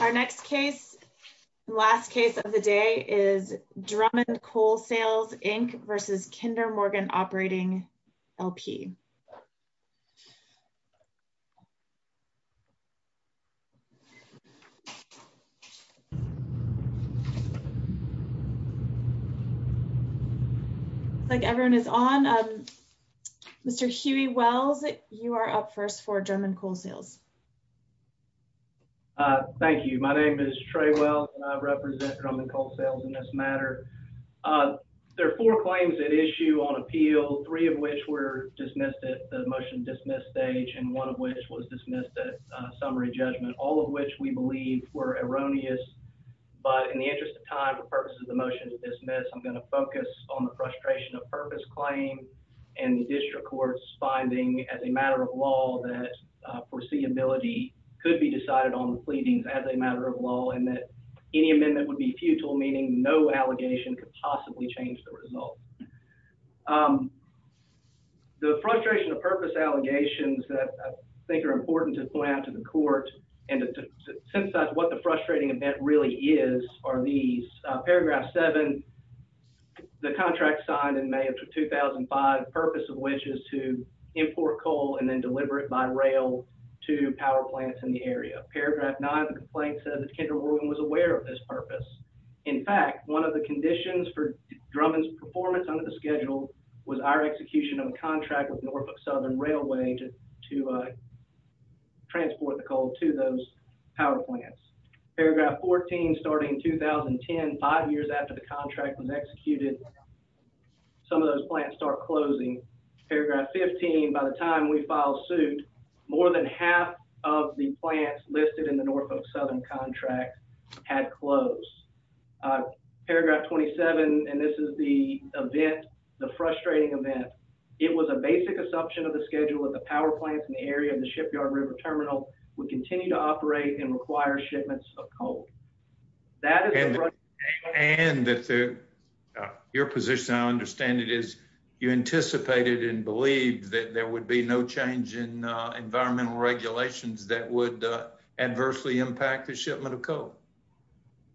Our next case, last case of the day, is Drummond Coal Sales Inc. v. Kinder Morgan Operating LP. Looks like everyone is on. Mr. Huey Wells, you are up first for Drummond Coal Sales. Thank you. My name is Trey Wells, and I represent Drummond Coal Sales in this matter. There are four claims at issue on appeal, three of which were dismissed at the motion to dismiss stage, and one of which was dismissed at summary judgment, all of which we believe were erroneous. But in the interest of time for purposes of the motion to dismiss, I'm going to focus on the frustration of purpose claim and the district court's finding as a matter of law that foreseeability could be decided on the pleadings as a matter of law and that any amendment would be futile, meaning no allegation could possibly change the result. The frustration of purpose allegations that I think are important to point out to the court and to synthesize what the frustrating event really is are these. Paragraph 7, the contract signed in May of 2005, purpose of which is to import coal and then deliver it by to power plants in the area. Paragraph 9, the complaint said that Kendall Rubin was aware of this purpose. In fact, one of the conditions for Drummond's performance under the schedule was our execution of a contract with Norfolk Southern Railway to transport the coal to those power plants. Paragraph 14, starting in 2010, five years after the contract was executed, some of those plants start closing. Paragraph 15, by the time we filed suit, more than half of the plants listed in the Norfolk Southern contract had closed. Paragraph 27, and this is the event, the frustrating event, it was a basic assumption of the schedule that the power plants in the area of the Shipyard River Terminal would continue to operate and require shipments of coal. And that your position, I understand it, is you anticipated and believed that there would be no change in environmental regulations that would adversely impact the shipment of coal.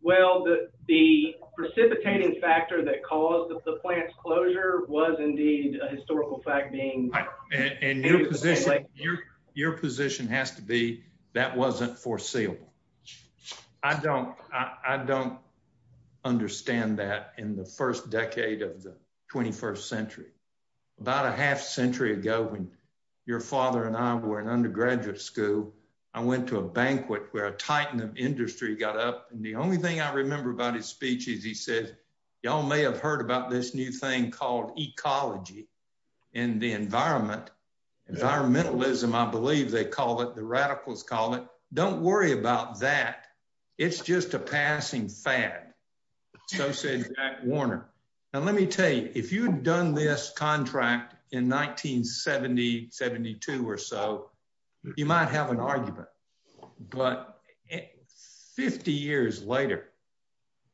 Well, the precipitating factor that caused the plant's closure was indeed a historical fact and your position has to be that wasn't foreseeable. I don't understand that in the first decade of the 21st century. About a half century ago, when your father and I were in undergraduate school, I went to a banquet where a titan of industry got up and the only thing I remember about his speech is he said, y'all may have heard about this new thing called ecology and the environment. Environmentalism, I believe they call it, the radicals call it. Don't worry about that. It's just a passing fad. So said Jack Warner. Now, let me tell you, if you'd done this contract in 1970, 72 or so, you might have an argument, but 50 years later,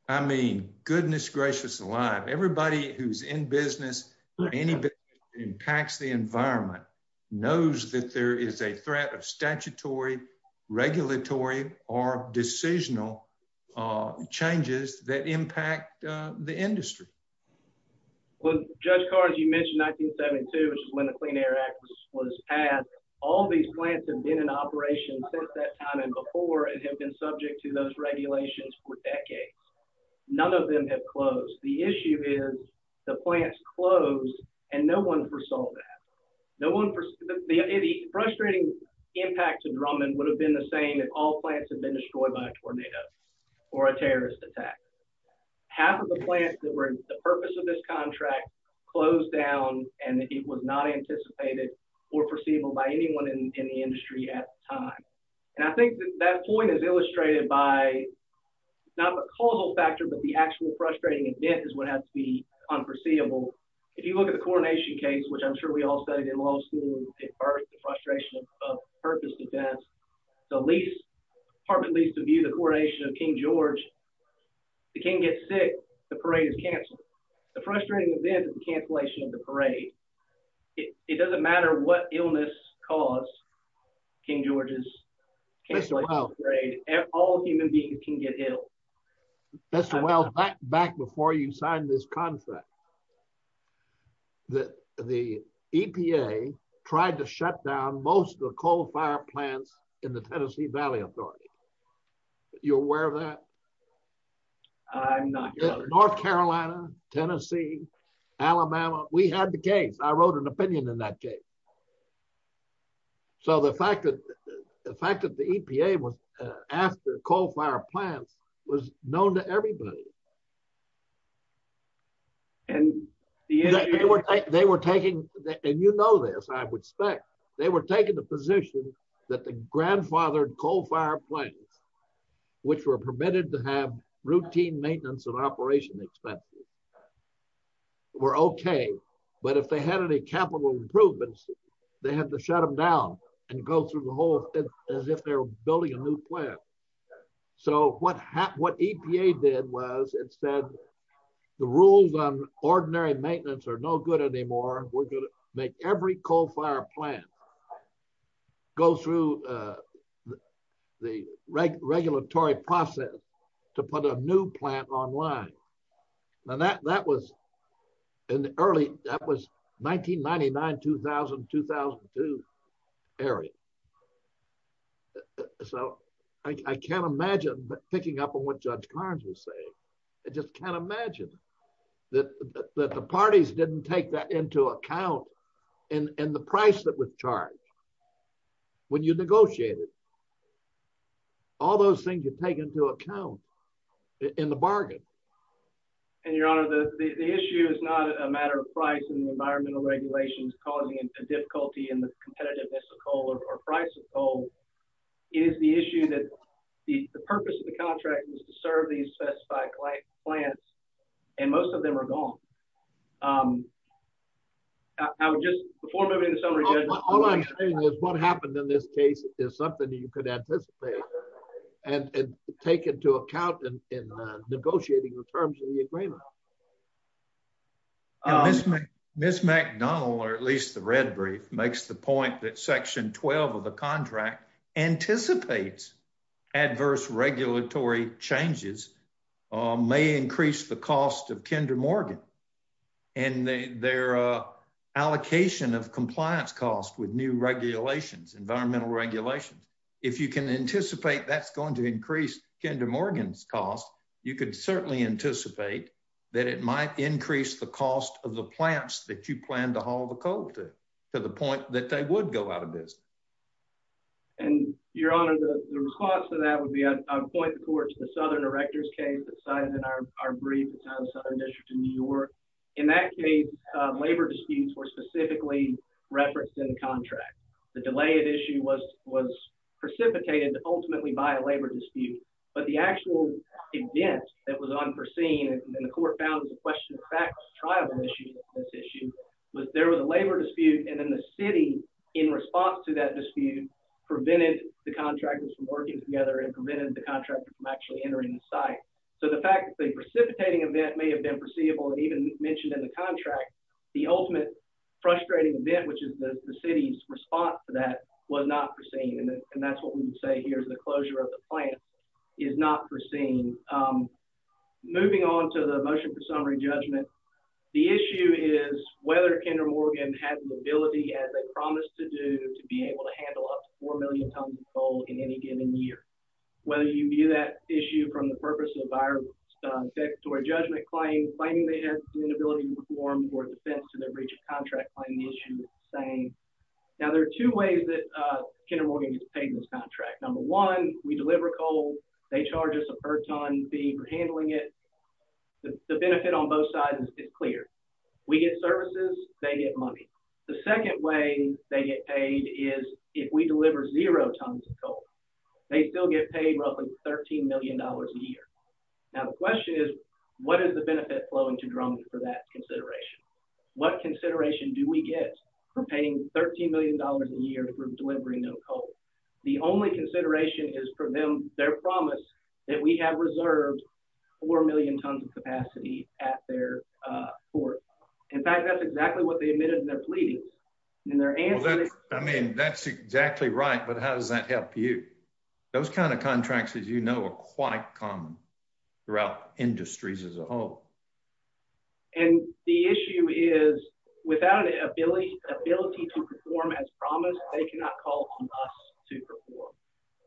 I mean, goodness gracious alive, everybody who's in business, anybody who impacts the environment knows that there is a threat of statutory, regulatory, or decisional changes that impact the industry. Well, Judge Carr, as you mentioned 1972, which is when the Clean Air Act was passed, all these plants have been in operation since that time and before and have been subject to those regulations for decades. None of them have closed. The issue is the plants closed and no one foresaw that. The frustrating impact to Drummond would have been the same if all plants had been destroyed by a tornado or a terrorist attack. Half of the plants that were the purpose of this contract closed down and it was not anticipated or foreseeable by anyone in the not the causal factor, but the actual frustrating event is what has to be unforeseeable. If you look at the coronation case, which I'm sure we all studied in law school at first, the frustration of purpose defense, the lease, apartment lease to view the coronation of King George, the king gets sick, the parade is canceled. The frustrating event is the cancellation of the parade. It doesn't matter what illness caused King George's parade, all human beings can get ill. Mr. Wells, back before you signed this contract, the EPA tried to shut down most of the coal fire plants in the Tennessee Valley Authority. Are you aware of that? I'm not. North Carolina, Tennessee, Alabama, we had the case. I wrote an opinion in that case. The fact that the EPA was after coal fire plants was known to everybody. They were taking, and you know this, I would expect, they were taking the position that the grandfathered coal fire plants, which were permitted to have routine maintenance and operation expenses, were okay, but if they had any capital improvements, they had to shut them down and go through the whole, as if they were building a new plant. So, what EPA did was, it said the rules on ordinary maintenance are no good anymore. We're going to make every coal fire plant go through the regulatory process to put a new plant online. Now, that was in the early, that was 1999, 2000, 2002 area. So, I can't imagine, picking up on what Judge Carnes was saying, I just can't imagine that the parties didn't take that into account in the price that was charged when you negotiated. All those things you take into account in the bargain. And your honor, the issue is not a matter of price and environmental regulations causing a difficulty in the competitiveness of coal or price of coal. It is the issue that the purpose of the contract is to serve these specified plants, and most of them are gone. I would just, before moving to summary, Judge. All I'm saying is what happened in this case is something that you could anticipate and take into account in negotiating the terms of the agreement. Ms. McDonald, or at least the red brief, makes the point that section 12 of the contract anticipates adverse regulatory changes may increase the cost of Kinder Morgan. And their allocation of compliance costs with new regulations, environmental regulations, if you can anticipate that's going to increase Kinder Morgan's cost, you could certainly anticipate that it might increase the cost of the plants that you plan to haul the coal to, to the point that they would go out of business. And your honor, the response to that would be, I would point the court to the Southern District of New York. In that case, labor disputes were specifically referenced in the contract. The delay at issue was precipitated ultimately by a labor dispute, but the actual event that was unforeseen, and the court found it was a question of fact, a trial issue, this issue, was there was a labor dispute, and then the city, in response to that dispute, prevented the contractors from working together and prevented the contractor from actually and even mentioned in the contract, the ultimate frustrating event, which is the city's response to that was not foreseen. And that's what we would say here is the closure of the plant is not foreseen. Moving on to the motion for summary judgment. The issue is whether Kinder Morgan has the ability, as they promised to do, to be able to handle up to four million tons of coal in any given year. Whether you view that issue from the purpose of our statutory judgment claim, claiming they have an inability to perform or defense to their breach of contract claim, the issue is the same. Now, there are two ways that Kinder Morgan gets paid in this contract. Number one, we deliver coal, they charge us a per ton fee for handling it. The benefit on both sides is clear. We get services, they get money. The second way they get paid is if we deliver zero tons of coal, they still get paid roughly $13 million a year. Now, the question is, what is the benefit flowing to Drums for that consideration? What consideration do we get for paying $13 million a year for delivering no coal? The only consideration is for them, their promise that we have reserved four million tons of capacity at their port. In fact, that's exactly what they admitted in their pleadings. I mean, that's exactly right, but how does that affect the industry as a whole? And the issue is without an ability to perform as promised, they cannot call on us to perform.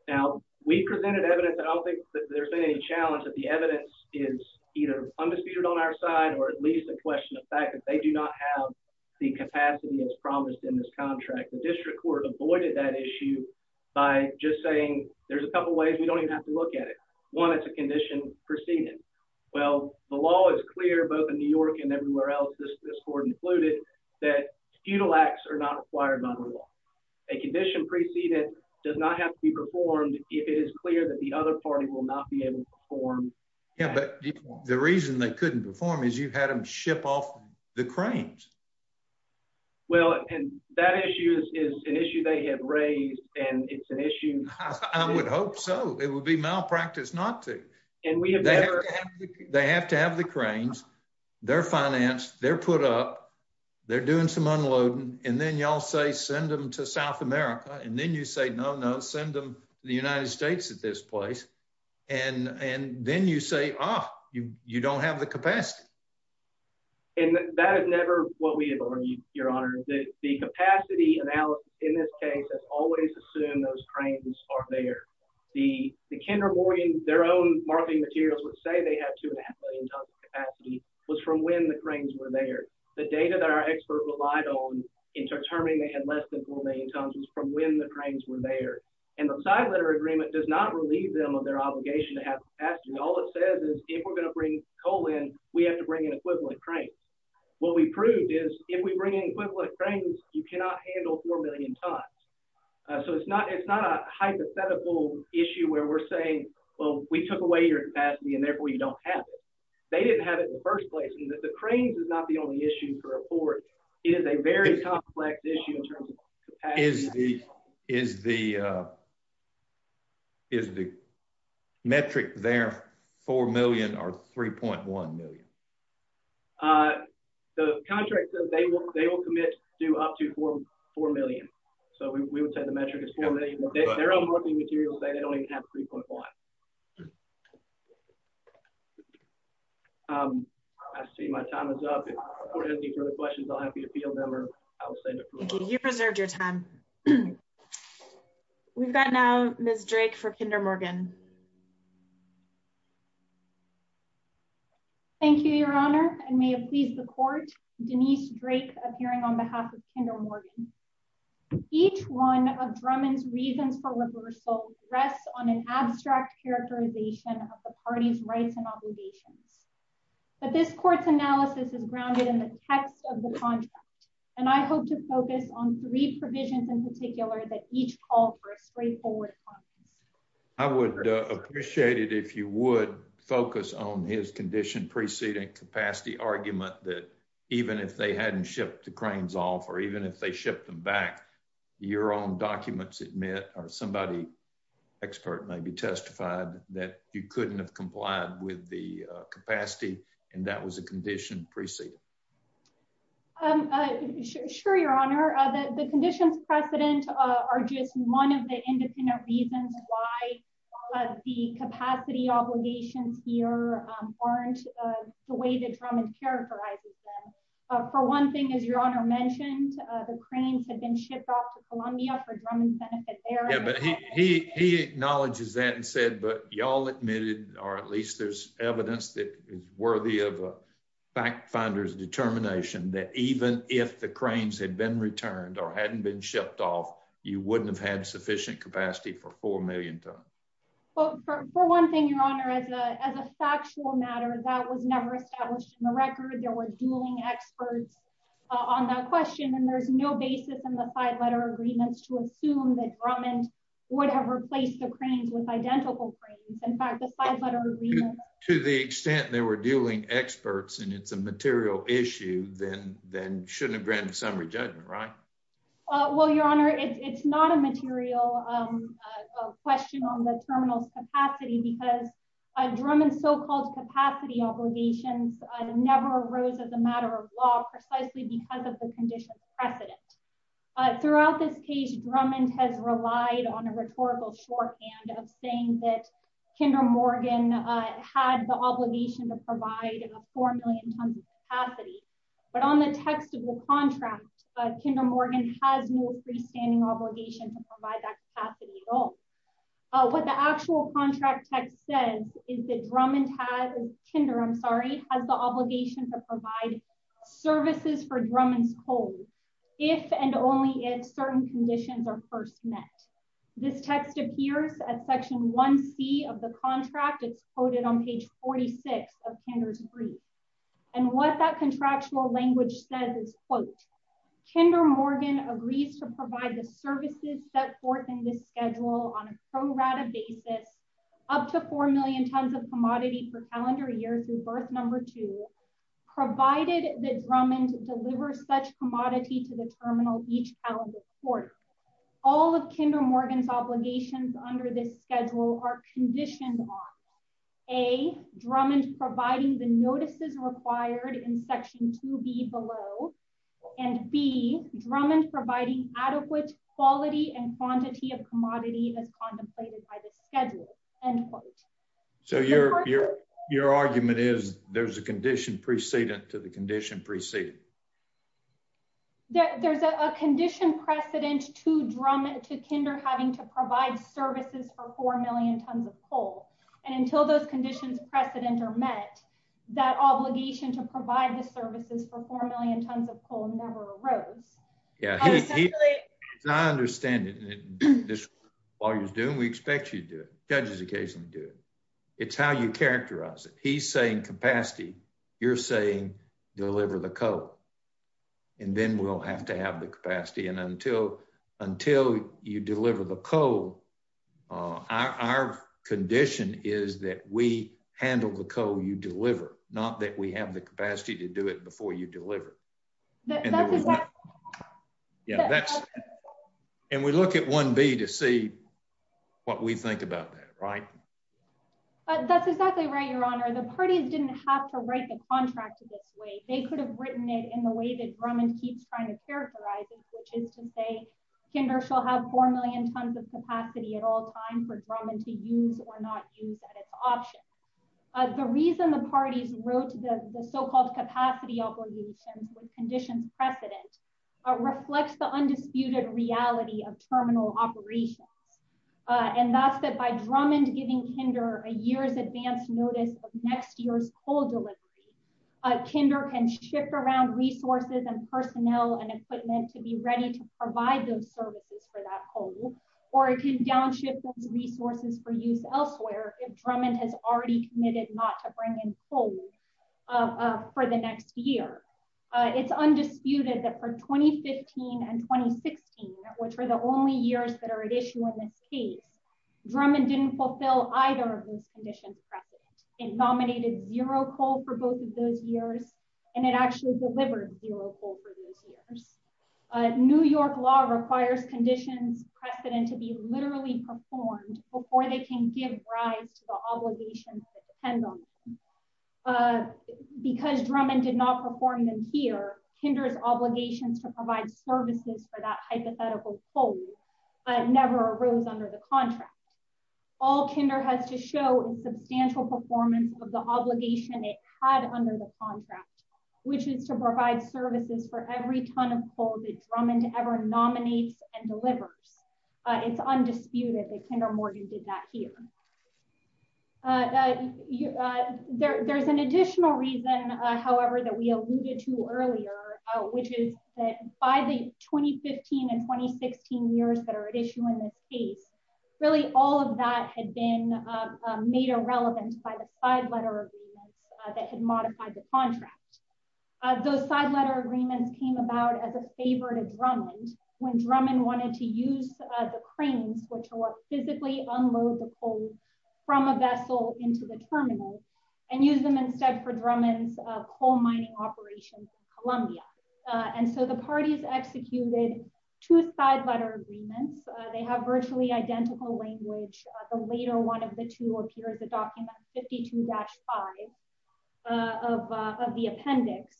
Now, we presented evidence and I don't think that there's been any challenge that the evidence is either undisputed on our side or at least a question of fact that they do not have the capacity as promised in this contract. The district court avoided that issue by just saying there's a couple of ways we don't even have to look at it. One, it's a condition preceded. Well, the law is clear both in New York and everywhere else, this court included, that feudal acts are not required by the law. A condition preceded does not have to be performed if it is clear that the other party will not be able to perform. Yeah, but the reason they couldn't perform is you've had them ship off the cranes. Well, and that issue is an issue they have raised and it's an issue... I would hope so. It would be malpractice not to. They have to have the cranes, they're financed, they're put up, they're doing some unloading, and then y'all say send them to South America and then you say, no, no, send them to the United States at this place. And then you say, ah, you don't have the capacity. And that is never what we have argued, Your Honor. The capacity analysis in this case has always assumed those cranes are there. The Kendra Morgan, their own marketing materials would say they have two and a half million tons of capacity was from when the cranes were there. The data that our expert relied on in determining they had less than four million tons was from when the cranes were there. And the side letter agreement does not relieve them of their obligation to have capacity. All it says is if we're going to bring coal in, we have to bring in equivalent cranes. What we proved is if we bring in equivalent cranes, you cannot handle four million tons. So it's not a hypothetical issue where we're saying, well, we took away your capacity and therefore you don't have it. They didn't have it in the first place. And that the cranes is not the only issue for a port. It is a very complex issue in terms of capacity. Is the metric there four million or 3.1 million? The contract says they will commit to up to four million. So we would say the metric is four million. Their own marketing materials say they don't even have 3.1. I see my time is up. If anyone has any further questions, I'll be happy to field them or you preserved your time. We've got now Ms. Drake for Kinder Morgan. Thank you, Your Honor, and may it please the court. Denise Drake appearing on behalf of Kinder Morgan. Each one of Drummond's reasons for reversal rests on an abstract characterization of the party's rights and obligations. But this court's analysis is grounded in the text of the contract. And I hope to focus on three provisions in particular that each call for a straightforward I would appreciate it if you would focus on his condition preceding capacity argument that even if they hadn't shipped the cranes off or even if they shipped them back, your own documents admit or somebody expert may be testified that you couldn't have complied with the Sure, Your Honor, the conditions precedent are just one of the independent reasons why the capacity obligations here aren't the way that Drummond characterizes them. For one thing, as Your Honor mentioned, the cranes had been shipped off to Columbia for Drummond's benefit. He acknowledges that and said, but y'all admitted or at least there's evidence that is worthy of a fact finder's determination that even if the cranes had been returned or hadn't been shipped off, you wouldn't have had sufficient capacity for 4 million tons. Well, for one thing, Your Honor, as a factual matter, that was never established in the record. There were dueling experts on that question, and there's no basis in the five-letter agreements to assume that Drummond would have replaced the cranes with identical cranes. In fact, to the extent they were dueling experts and it's a material issue, then shouldn't have granted summary judgment, right? Well, Your Honor, it's not a material question on the terminal's capacity because Drummond's so-called capacity obligations never arose as a matter of law precisely because of the condition precedent. Throughout this case, Drummond has relied on a rhetorical shorthand of that Kendra Morgan had the obligation to provide 4 million tons of capacity. But on the text of the contract, Kendra Morgan has no freestanding obligation to provide that capacity at all. What the actual contract text says is that Kendra has the obligation to provide services for Drummond's cold if and only if certain conditions are first met. This text appears at section 1c of the contract. It's quoted on page 46 of Kendra's brief. And what that contractual language says is, quote, Kendra Morgan agrees to provide the services set forth in this schedule on a pro rata basis up to 4 million tons of commodity per calendar year through birth number two, provided that Drummond delivers such commodity to the terminal each calendar quarter. All of Kendra Morgan's obligations under this schedule are conditioned on, A, Drummond providing the notices required in section 2b below, and B, Drummond providing adequate quality and quantity of commodity as contemplated by the schedule, end quote. So your argument is there's a condition precedent to the condition preceding? There's a condition precedent to Kendra having to provide services for 4 million tons of coal. And until those conditions precedent are met, that obligation to provide the services for 4 million tons of coal never arose. Yeah, I understand it. While you're doing, we expect you to do it. Judges occasionally do it. It's how you characterize it. He's saying capacity. You're saying deliver the coal. And then we'll have to have the capacity. And until you deliver the coal, our condition is that we handle the coal you deliver, not that we have the capacity to do it before you deliver. And we look at 1b to see what we think about that, right? But that's exactly right, Your Honor. The parties didn't have to write the contract this way. They could have written it in the way that Drummond keeps trying to characterize it, which is to say, Kendra shall have 4 million tons of capacity at all time for Drummond to use or not use at its option. The reason the parties wrote the so-called capacity obligations with conditions precedent reflects the undisputed reality of terminal operations. And that's that by Drummond giving Kinder a year's advance notice of next year's coal delivery, Kinder can shift around resources and personnel and equipment to be ready to provide those services for that coal, or it can downshift those resources for use elsewhere if Drummond has already committed not to bring in coal for the next year. It's undisputed that for 2015 and 2016, which were the only years that are at issue in this case, Drummond didn't fulfill either of those conditions precedent. It nominated zero coal for both of those years, and it actually delivered zero coal for those years. New York law requires conditions precedent to be literally performed before they can give rise to the obligations that depend on them. Because Drummond did not perform them here, Kinder's obligations to provide services for that hypothetical coal never arose under the contract. All Kinder has to show is substantial performance of the obligation it had under the contract, which is to provide services for every ton of coal that Drummond ever nominates and delivers. It's undisputed that Kinder Morgan did that here. There's an issue that we alluded to earlier, which is that by the 2015 and 2016 years that are at issue in this case, really all of that had been made irrelevant by the side letter agreements that had modified the contract. Those side letter agreements came about as a favor to Drummond when Drummond wanted to use the cranes which will physically unload the coal from a vessel into the terminal and use them instead for Drummond's coal mining operations in Colombia. And so the parties executed two side letter agreements. They have virtually identical language. The later one of the two appears the document 52-5 of the appendix.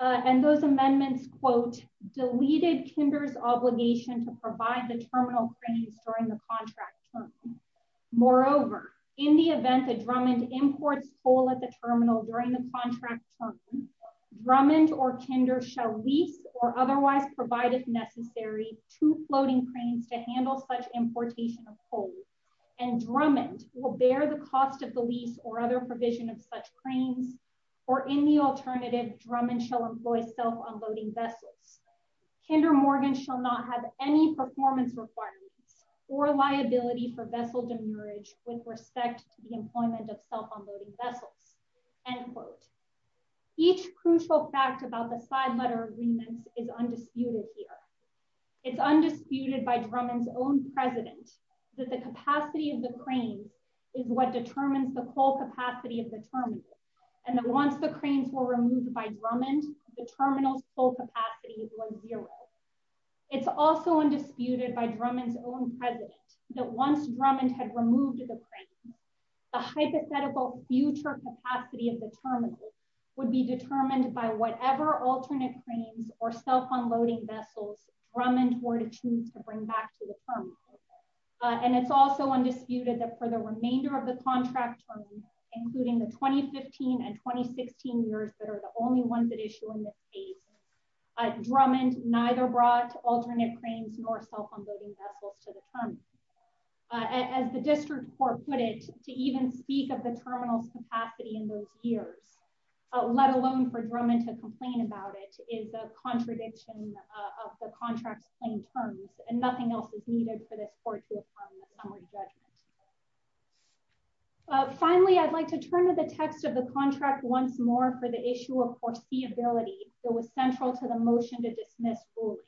And those amendments, quote, deleted Kinder's obligation to provide the terminal cranes during the contract Moreover, in the event that Drummond imports coal at the terminal during the contract term, Drummond or Kinder shall lease or otherwise provide if necessary two floating cranes to handle such importation of coal. And Drummond will bear the cost of the lease or other provision of such cranes. Or in the alternative, Drummond shall employ self unloading vessels. Kinder shall not have any performance requirements or liability for vessel demerit with respect to the employment of self unloading vessels. End quote. Each crucial fact about the side letter agreements is undisputed here. It's undisputed by Drummond's own president that the capacity of the cranes is what determines the coal capacity of the terminal. And once the cranes were removed by Drummond, the terminal's coal capacity was zero. It's also undisputed by Drummond's own president that once Drummond had removed the cranes, the hypothetical future capacity of the terminal would be determined by whatever alternate cranes or self unloading vessels Drummond were to choose to bring back to the terminal. And it's also undisputed that for the remainder of the case, Drummond neither brought alternate cranes nor self unloading vessels to the terminal. As the district court put it, to even speak of the terminal's capacity in those years, let alone for Drummond to complain about it, is a contradiction of the contract's plain terms. And nothing else is needed for this court to affirm the summary judgment. Finally, I'd like to turn to the text of the contract once more for the issue of foreseeability that was central to the motion to dismiss ruling.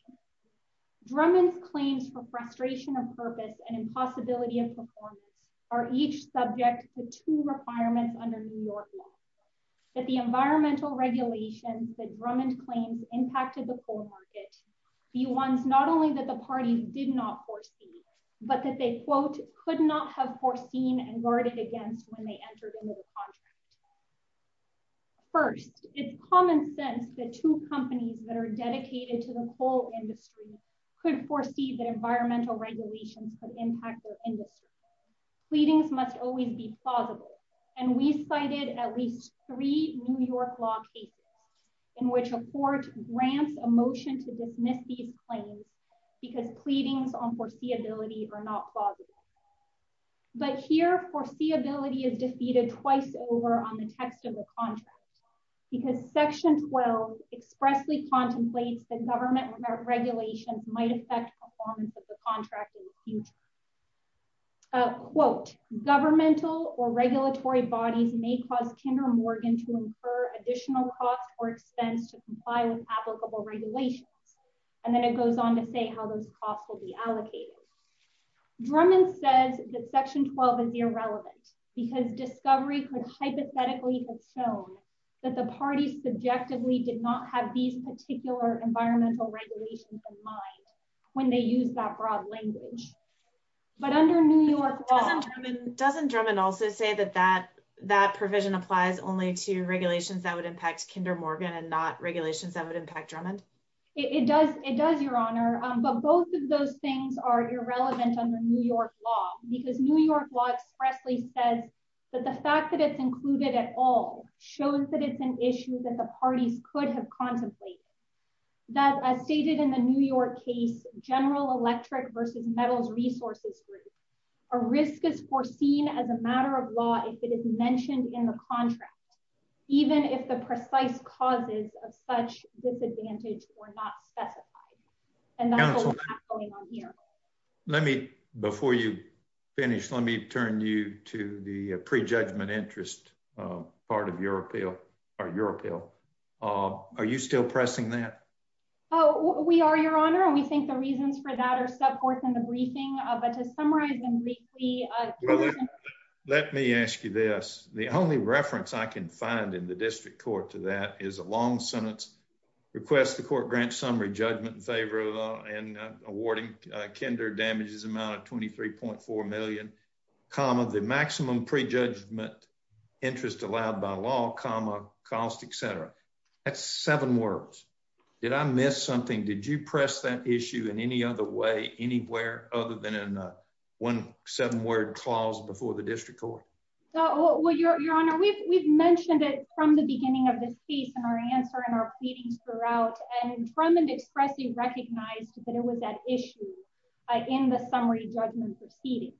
Drummond's claims for frustration of purpose and impossibility of performance are each subject to two requirements under New York law. That the environmental regulations that Drummond claims impacted the coal market be ones not only that parties did not foresee, but that they, quote, could not have foreseen and guarded against when they entered into the contract. First, it's common sense that two companies that are dedicated to the coal industry could foresee that environmental regulations could impact their industry. Pleadings must always be plausible. And we cited at least three New York law cases in which a court grants a motion to dismiss these claims because pleadings on foreseeability are not plausible. But here, foreseeability is defeated twice over on the text of the contract, because section 12 expressly contemplates that government regulations might affect performance of the contract in the future. Quote, governmental or regulatory bodies may cause Kinder Morgan to incur additional cost or expense to comply with applicable regulations. And then it goes on to say how those costs will be allocated. Drummond says that section 12 is irrelevant because discovery could hypothetically have shown that the parties subjectively did not have these particular environmental regulations in mind when they use that broad language. But under New York law... Doesn't Drummond also say that that provision applies only to regulations that would impact Kinder Morgan and not regulations that would impact Drummond? It does. It does, Your Honor. But both of those things are irrelevant under New York law because New York law expressly says that the fact that it's included at all shows that it's an issue that the parties could have contemplated. That as stated in the New York case, General Electric versus Metals Resources Group, a risk is foreseen as a matter of law if it is mentioned in the contract, even if the precise causes of such disadvantage were not specified. And that's what's going on here. Before you finish, let me turn you to the pre-judgment interest part of your appeal. Are you still pressing that? Oh, we are, Your Honor. And we think the reasons for that are set forth in the briefing. But to ask you this, the only reference I can find in the district court to that is a long sentence, request the court grant summary judgment in favor of awarding Kinder damages amount of $23.4 million, comma, the maximum pre-judgment interest allowed by law, comma, cost, etc. That's seven words. Did I miss something? Did you press that issue in any other way anywhere other than in one seven-word clause before the district court? Well, Your Honor, we've mentioned it from the beginning of this case in our answer and our pleadings throughout. And Drummond expressly recognized that it was at issue in the summary judgment proceedings.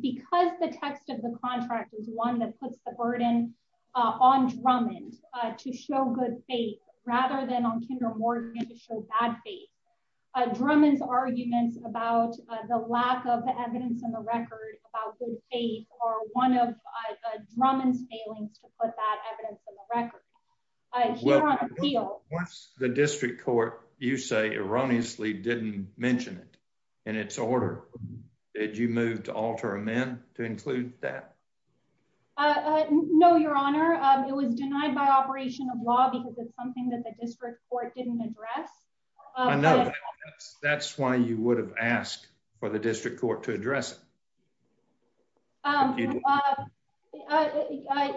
Because the text of the contract is one that puts the burden on Drummond to show good faith rather than on Kinder Morgan to show bad faith, Drummond's arguments about the lack of evidence in the record about good faith are one of Drummond's failings to put that evidence in the record. Once the district court, you say, erroneously didn't mention it in its order. Did you move to alter amend to include that? No, Your Honor. It was denied by operation of law because it's something that the district court didn't address. I know. That's why you would have asked for the district court to address it.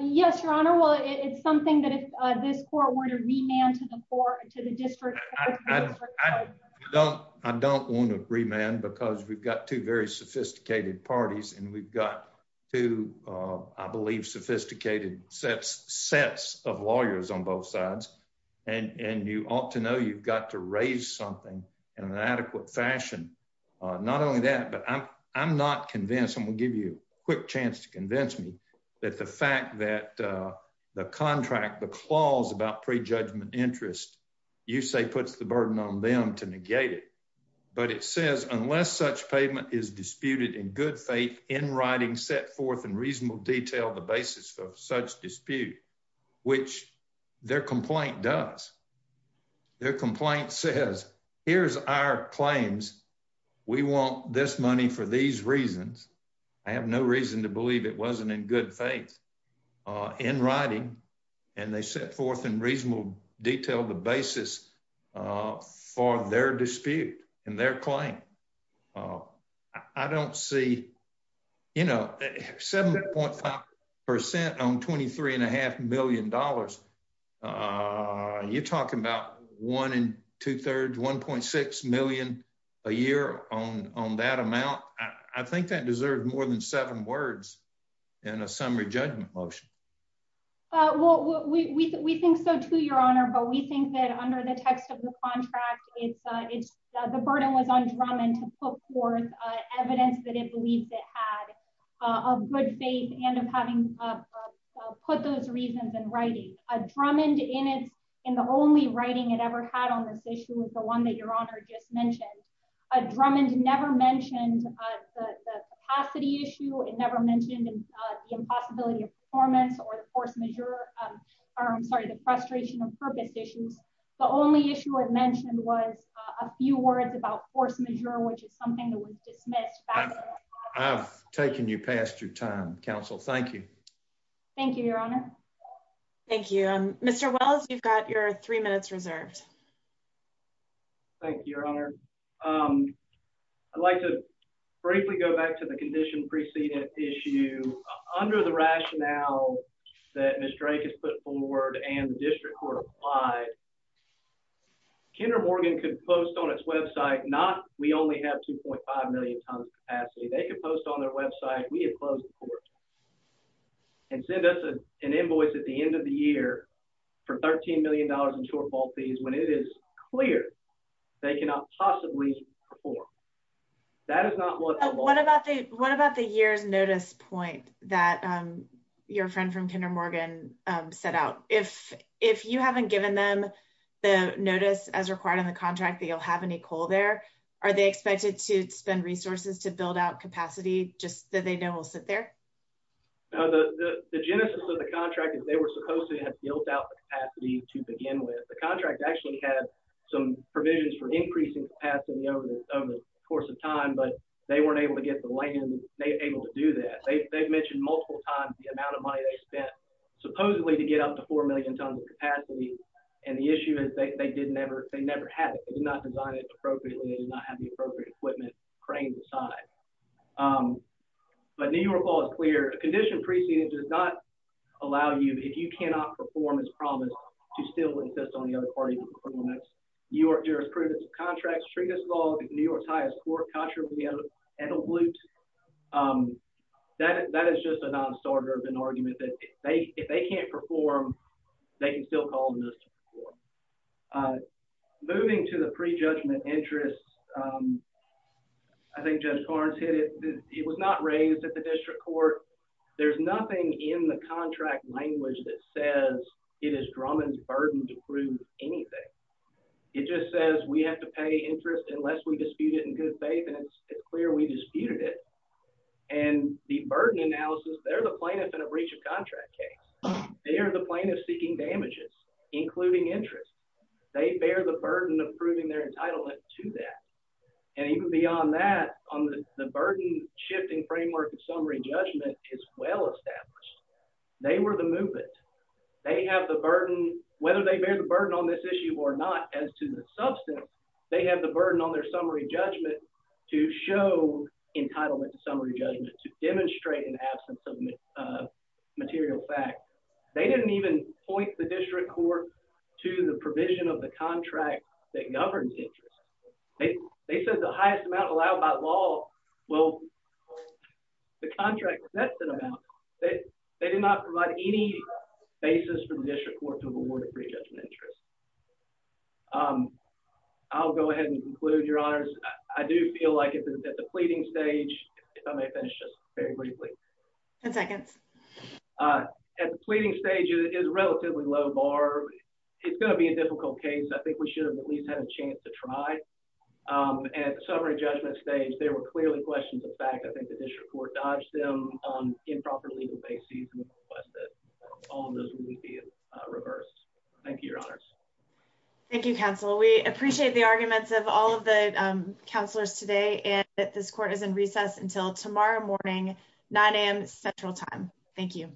Yes, Your Honor. Well, it's something that if this court were to remand to the court, to the district court. I don't want to remand because we've got two very sophisticated parties and we've got two, I believe, sophisticated sets of lawyers on both sides. And you ought to know you've got to raise something in an adequate fashion. Not only that, but I'm not convinced. I'm going to give you a quick chance to convince me that the fact that the contract, the clause about pre-judgment interest, you say puts the burden on them to negate it. But it says, unless such payment is disputed in good faith in writing, set forth in reasonable detail, the basis of such dispute, which their complaint does. Their complaint says, here's our claims. We want this money for these reasons. I have no reason to believe it wasn't in good faith in writing. And they set forth in reasonable detail the basis for their dispute and their claim. I don't see, you know, 7.5% on $23.5 million. You're talking about one and two thirds, $1.6 million a year on that amount. I think that deserves more than seven words in a summary judgment motion. Well, we think so too, Your Honor. But we think that under the text of the contract, it's the burden was on Drummond to put forth evidence that it believes it had of good faith and of having put those reasons in writing. Drummond, in the only writing it ever had on this issue, was the one that Your Honor just mentioned. Drummond never mentioned the capacity issue. It never mentioned the impossibility of performance or the force measure. I'm sorry, the frustration of purpose issues. The only issue it mentioned was a few words about force measure, which is something that was dismissed. I've taken you past your time, counsel. Thank you. Thank you, Your Honor. Thank you. Mr. Wells, you've got your three minutes reserved. Thank you, Your Honor. I'd like to briefly go back to the condition preceded issue. Under the rationale that Ms. Drake has put forward and the district court applied, Kinder Morgan could post on its website, not we only have 2.5 million tons capacity. They could post on their website, we had closed the court, and send us an invoice at the end of the year for $13 million in shortfall fees when it is clear they cannot possibly perform. What about the year's notice point that your friend from Kinder Morgan set out? If you haven't given them the notice as required in the contract that you'll have any coal there, are they expected to spend resources to build out capacity just that we'll sit there? The genesis of the contract is they were supposed to have built out the capacity to begin with. The contract actually had some provisions for increasing capacity over the course of time, but they weren't able to get the land, they were able to do that. They've mentioned multiple times the amount of money they spent supposedly to get up to 4 million tons of capacity, and the issue is they did never have it. They did not design it appropriately, they did not have the appropriate equipment cranes assigned. But New York law is clear, a condition preceded does not allow you, if you cannot perform as promised, to still insist on the other party's performance. New York jurisprudence of contracts, treatise law, New York's highest court contravene and elute, that is just a non-starter of an argument that if they can't perform, they can still call the district court. Moving to the pre-judgment interest, I think Judge Barnes hit it, it was not raised at the district court. There's nothing in the contract language that says it is Drummond's burden to prove anything. It just says we have to pay interest unless we dispute it in good faith, and it's clear we disputed it. And the burden analysis, they're the plaintiff in a breach of contract case. They are the plaintiff seeking damages, including interest. They bear the burden of proving their entitlement to that. And even beyond that, on the burden shifting framework of summary judgment is well established. They were the movement. They have the burden, whether they bear the burden on this issue or not as to the substance, they have the burden on their summary judgment to show entitlement to demonstrate an absence of material fact. They didn't even point the district court to the provision of the contract that governs interest. They said the highest amount allowed by law, well, the contract sets that amount. They did not provide any basis for the district court to award a pre-judgment interest. I'll go ahead and conclude, Your Honors. I do feel like at the pleading stage, it is relatively low bar. It's going to be a difficult case. I think we should have at least had a chance to try. At the summary judgment stage, there were clearly questions of fact. I think the district court dodged them on improper legal basis and requested all of those would be reversed. Thank you, Your Honors. Thank you, counsel. We appreciate the arguments of all the counselors today and that this court is in recess until tomorrow morning, 9 a.m. Central time. Thank you.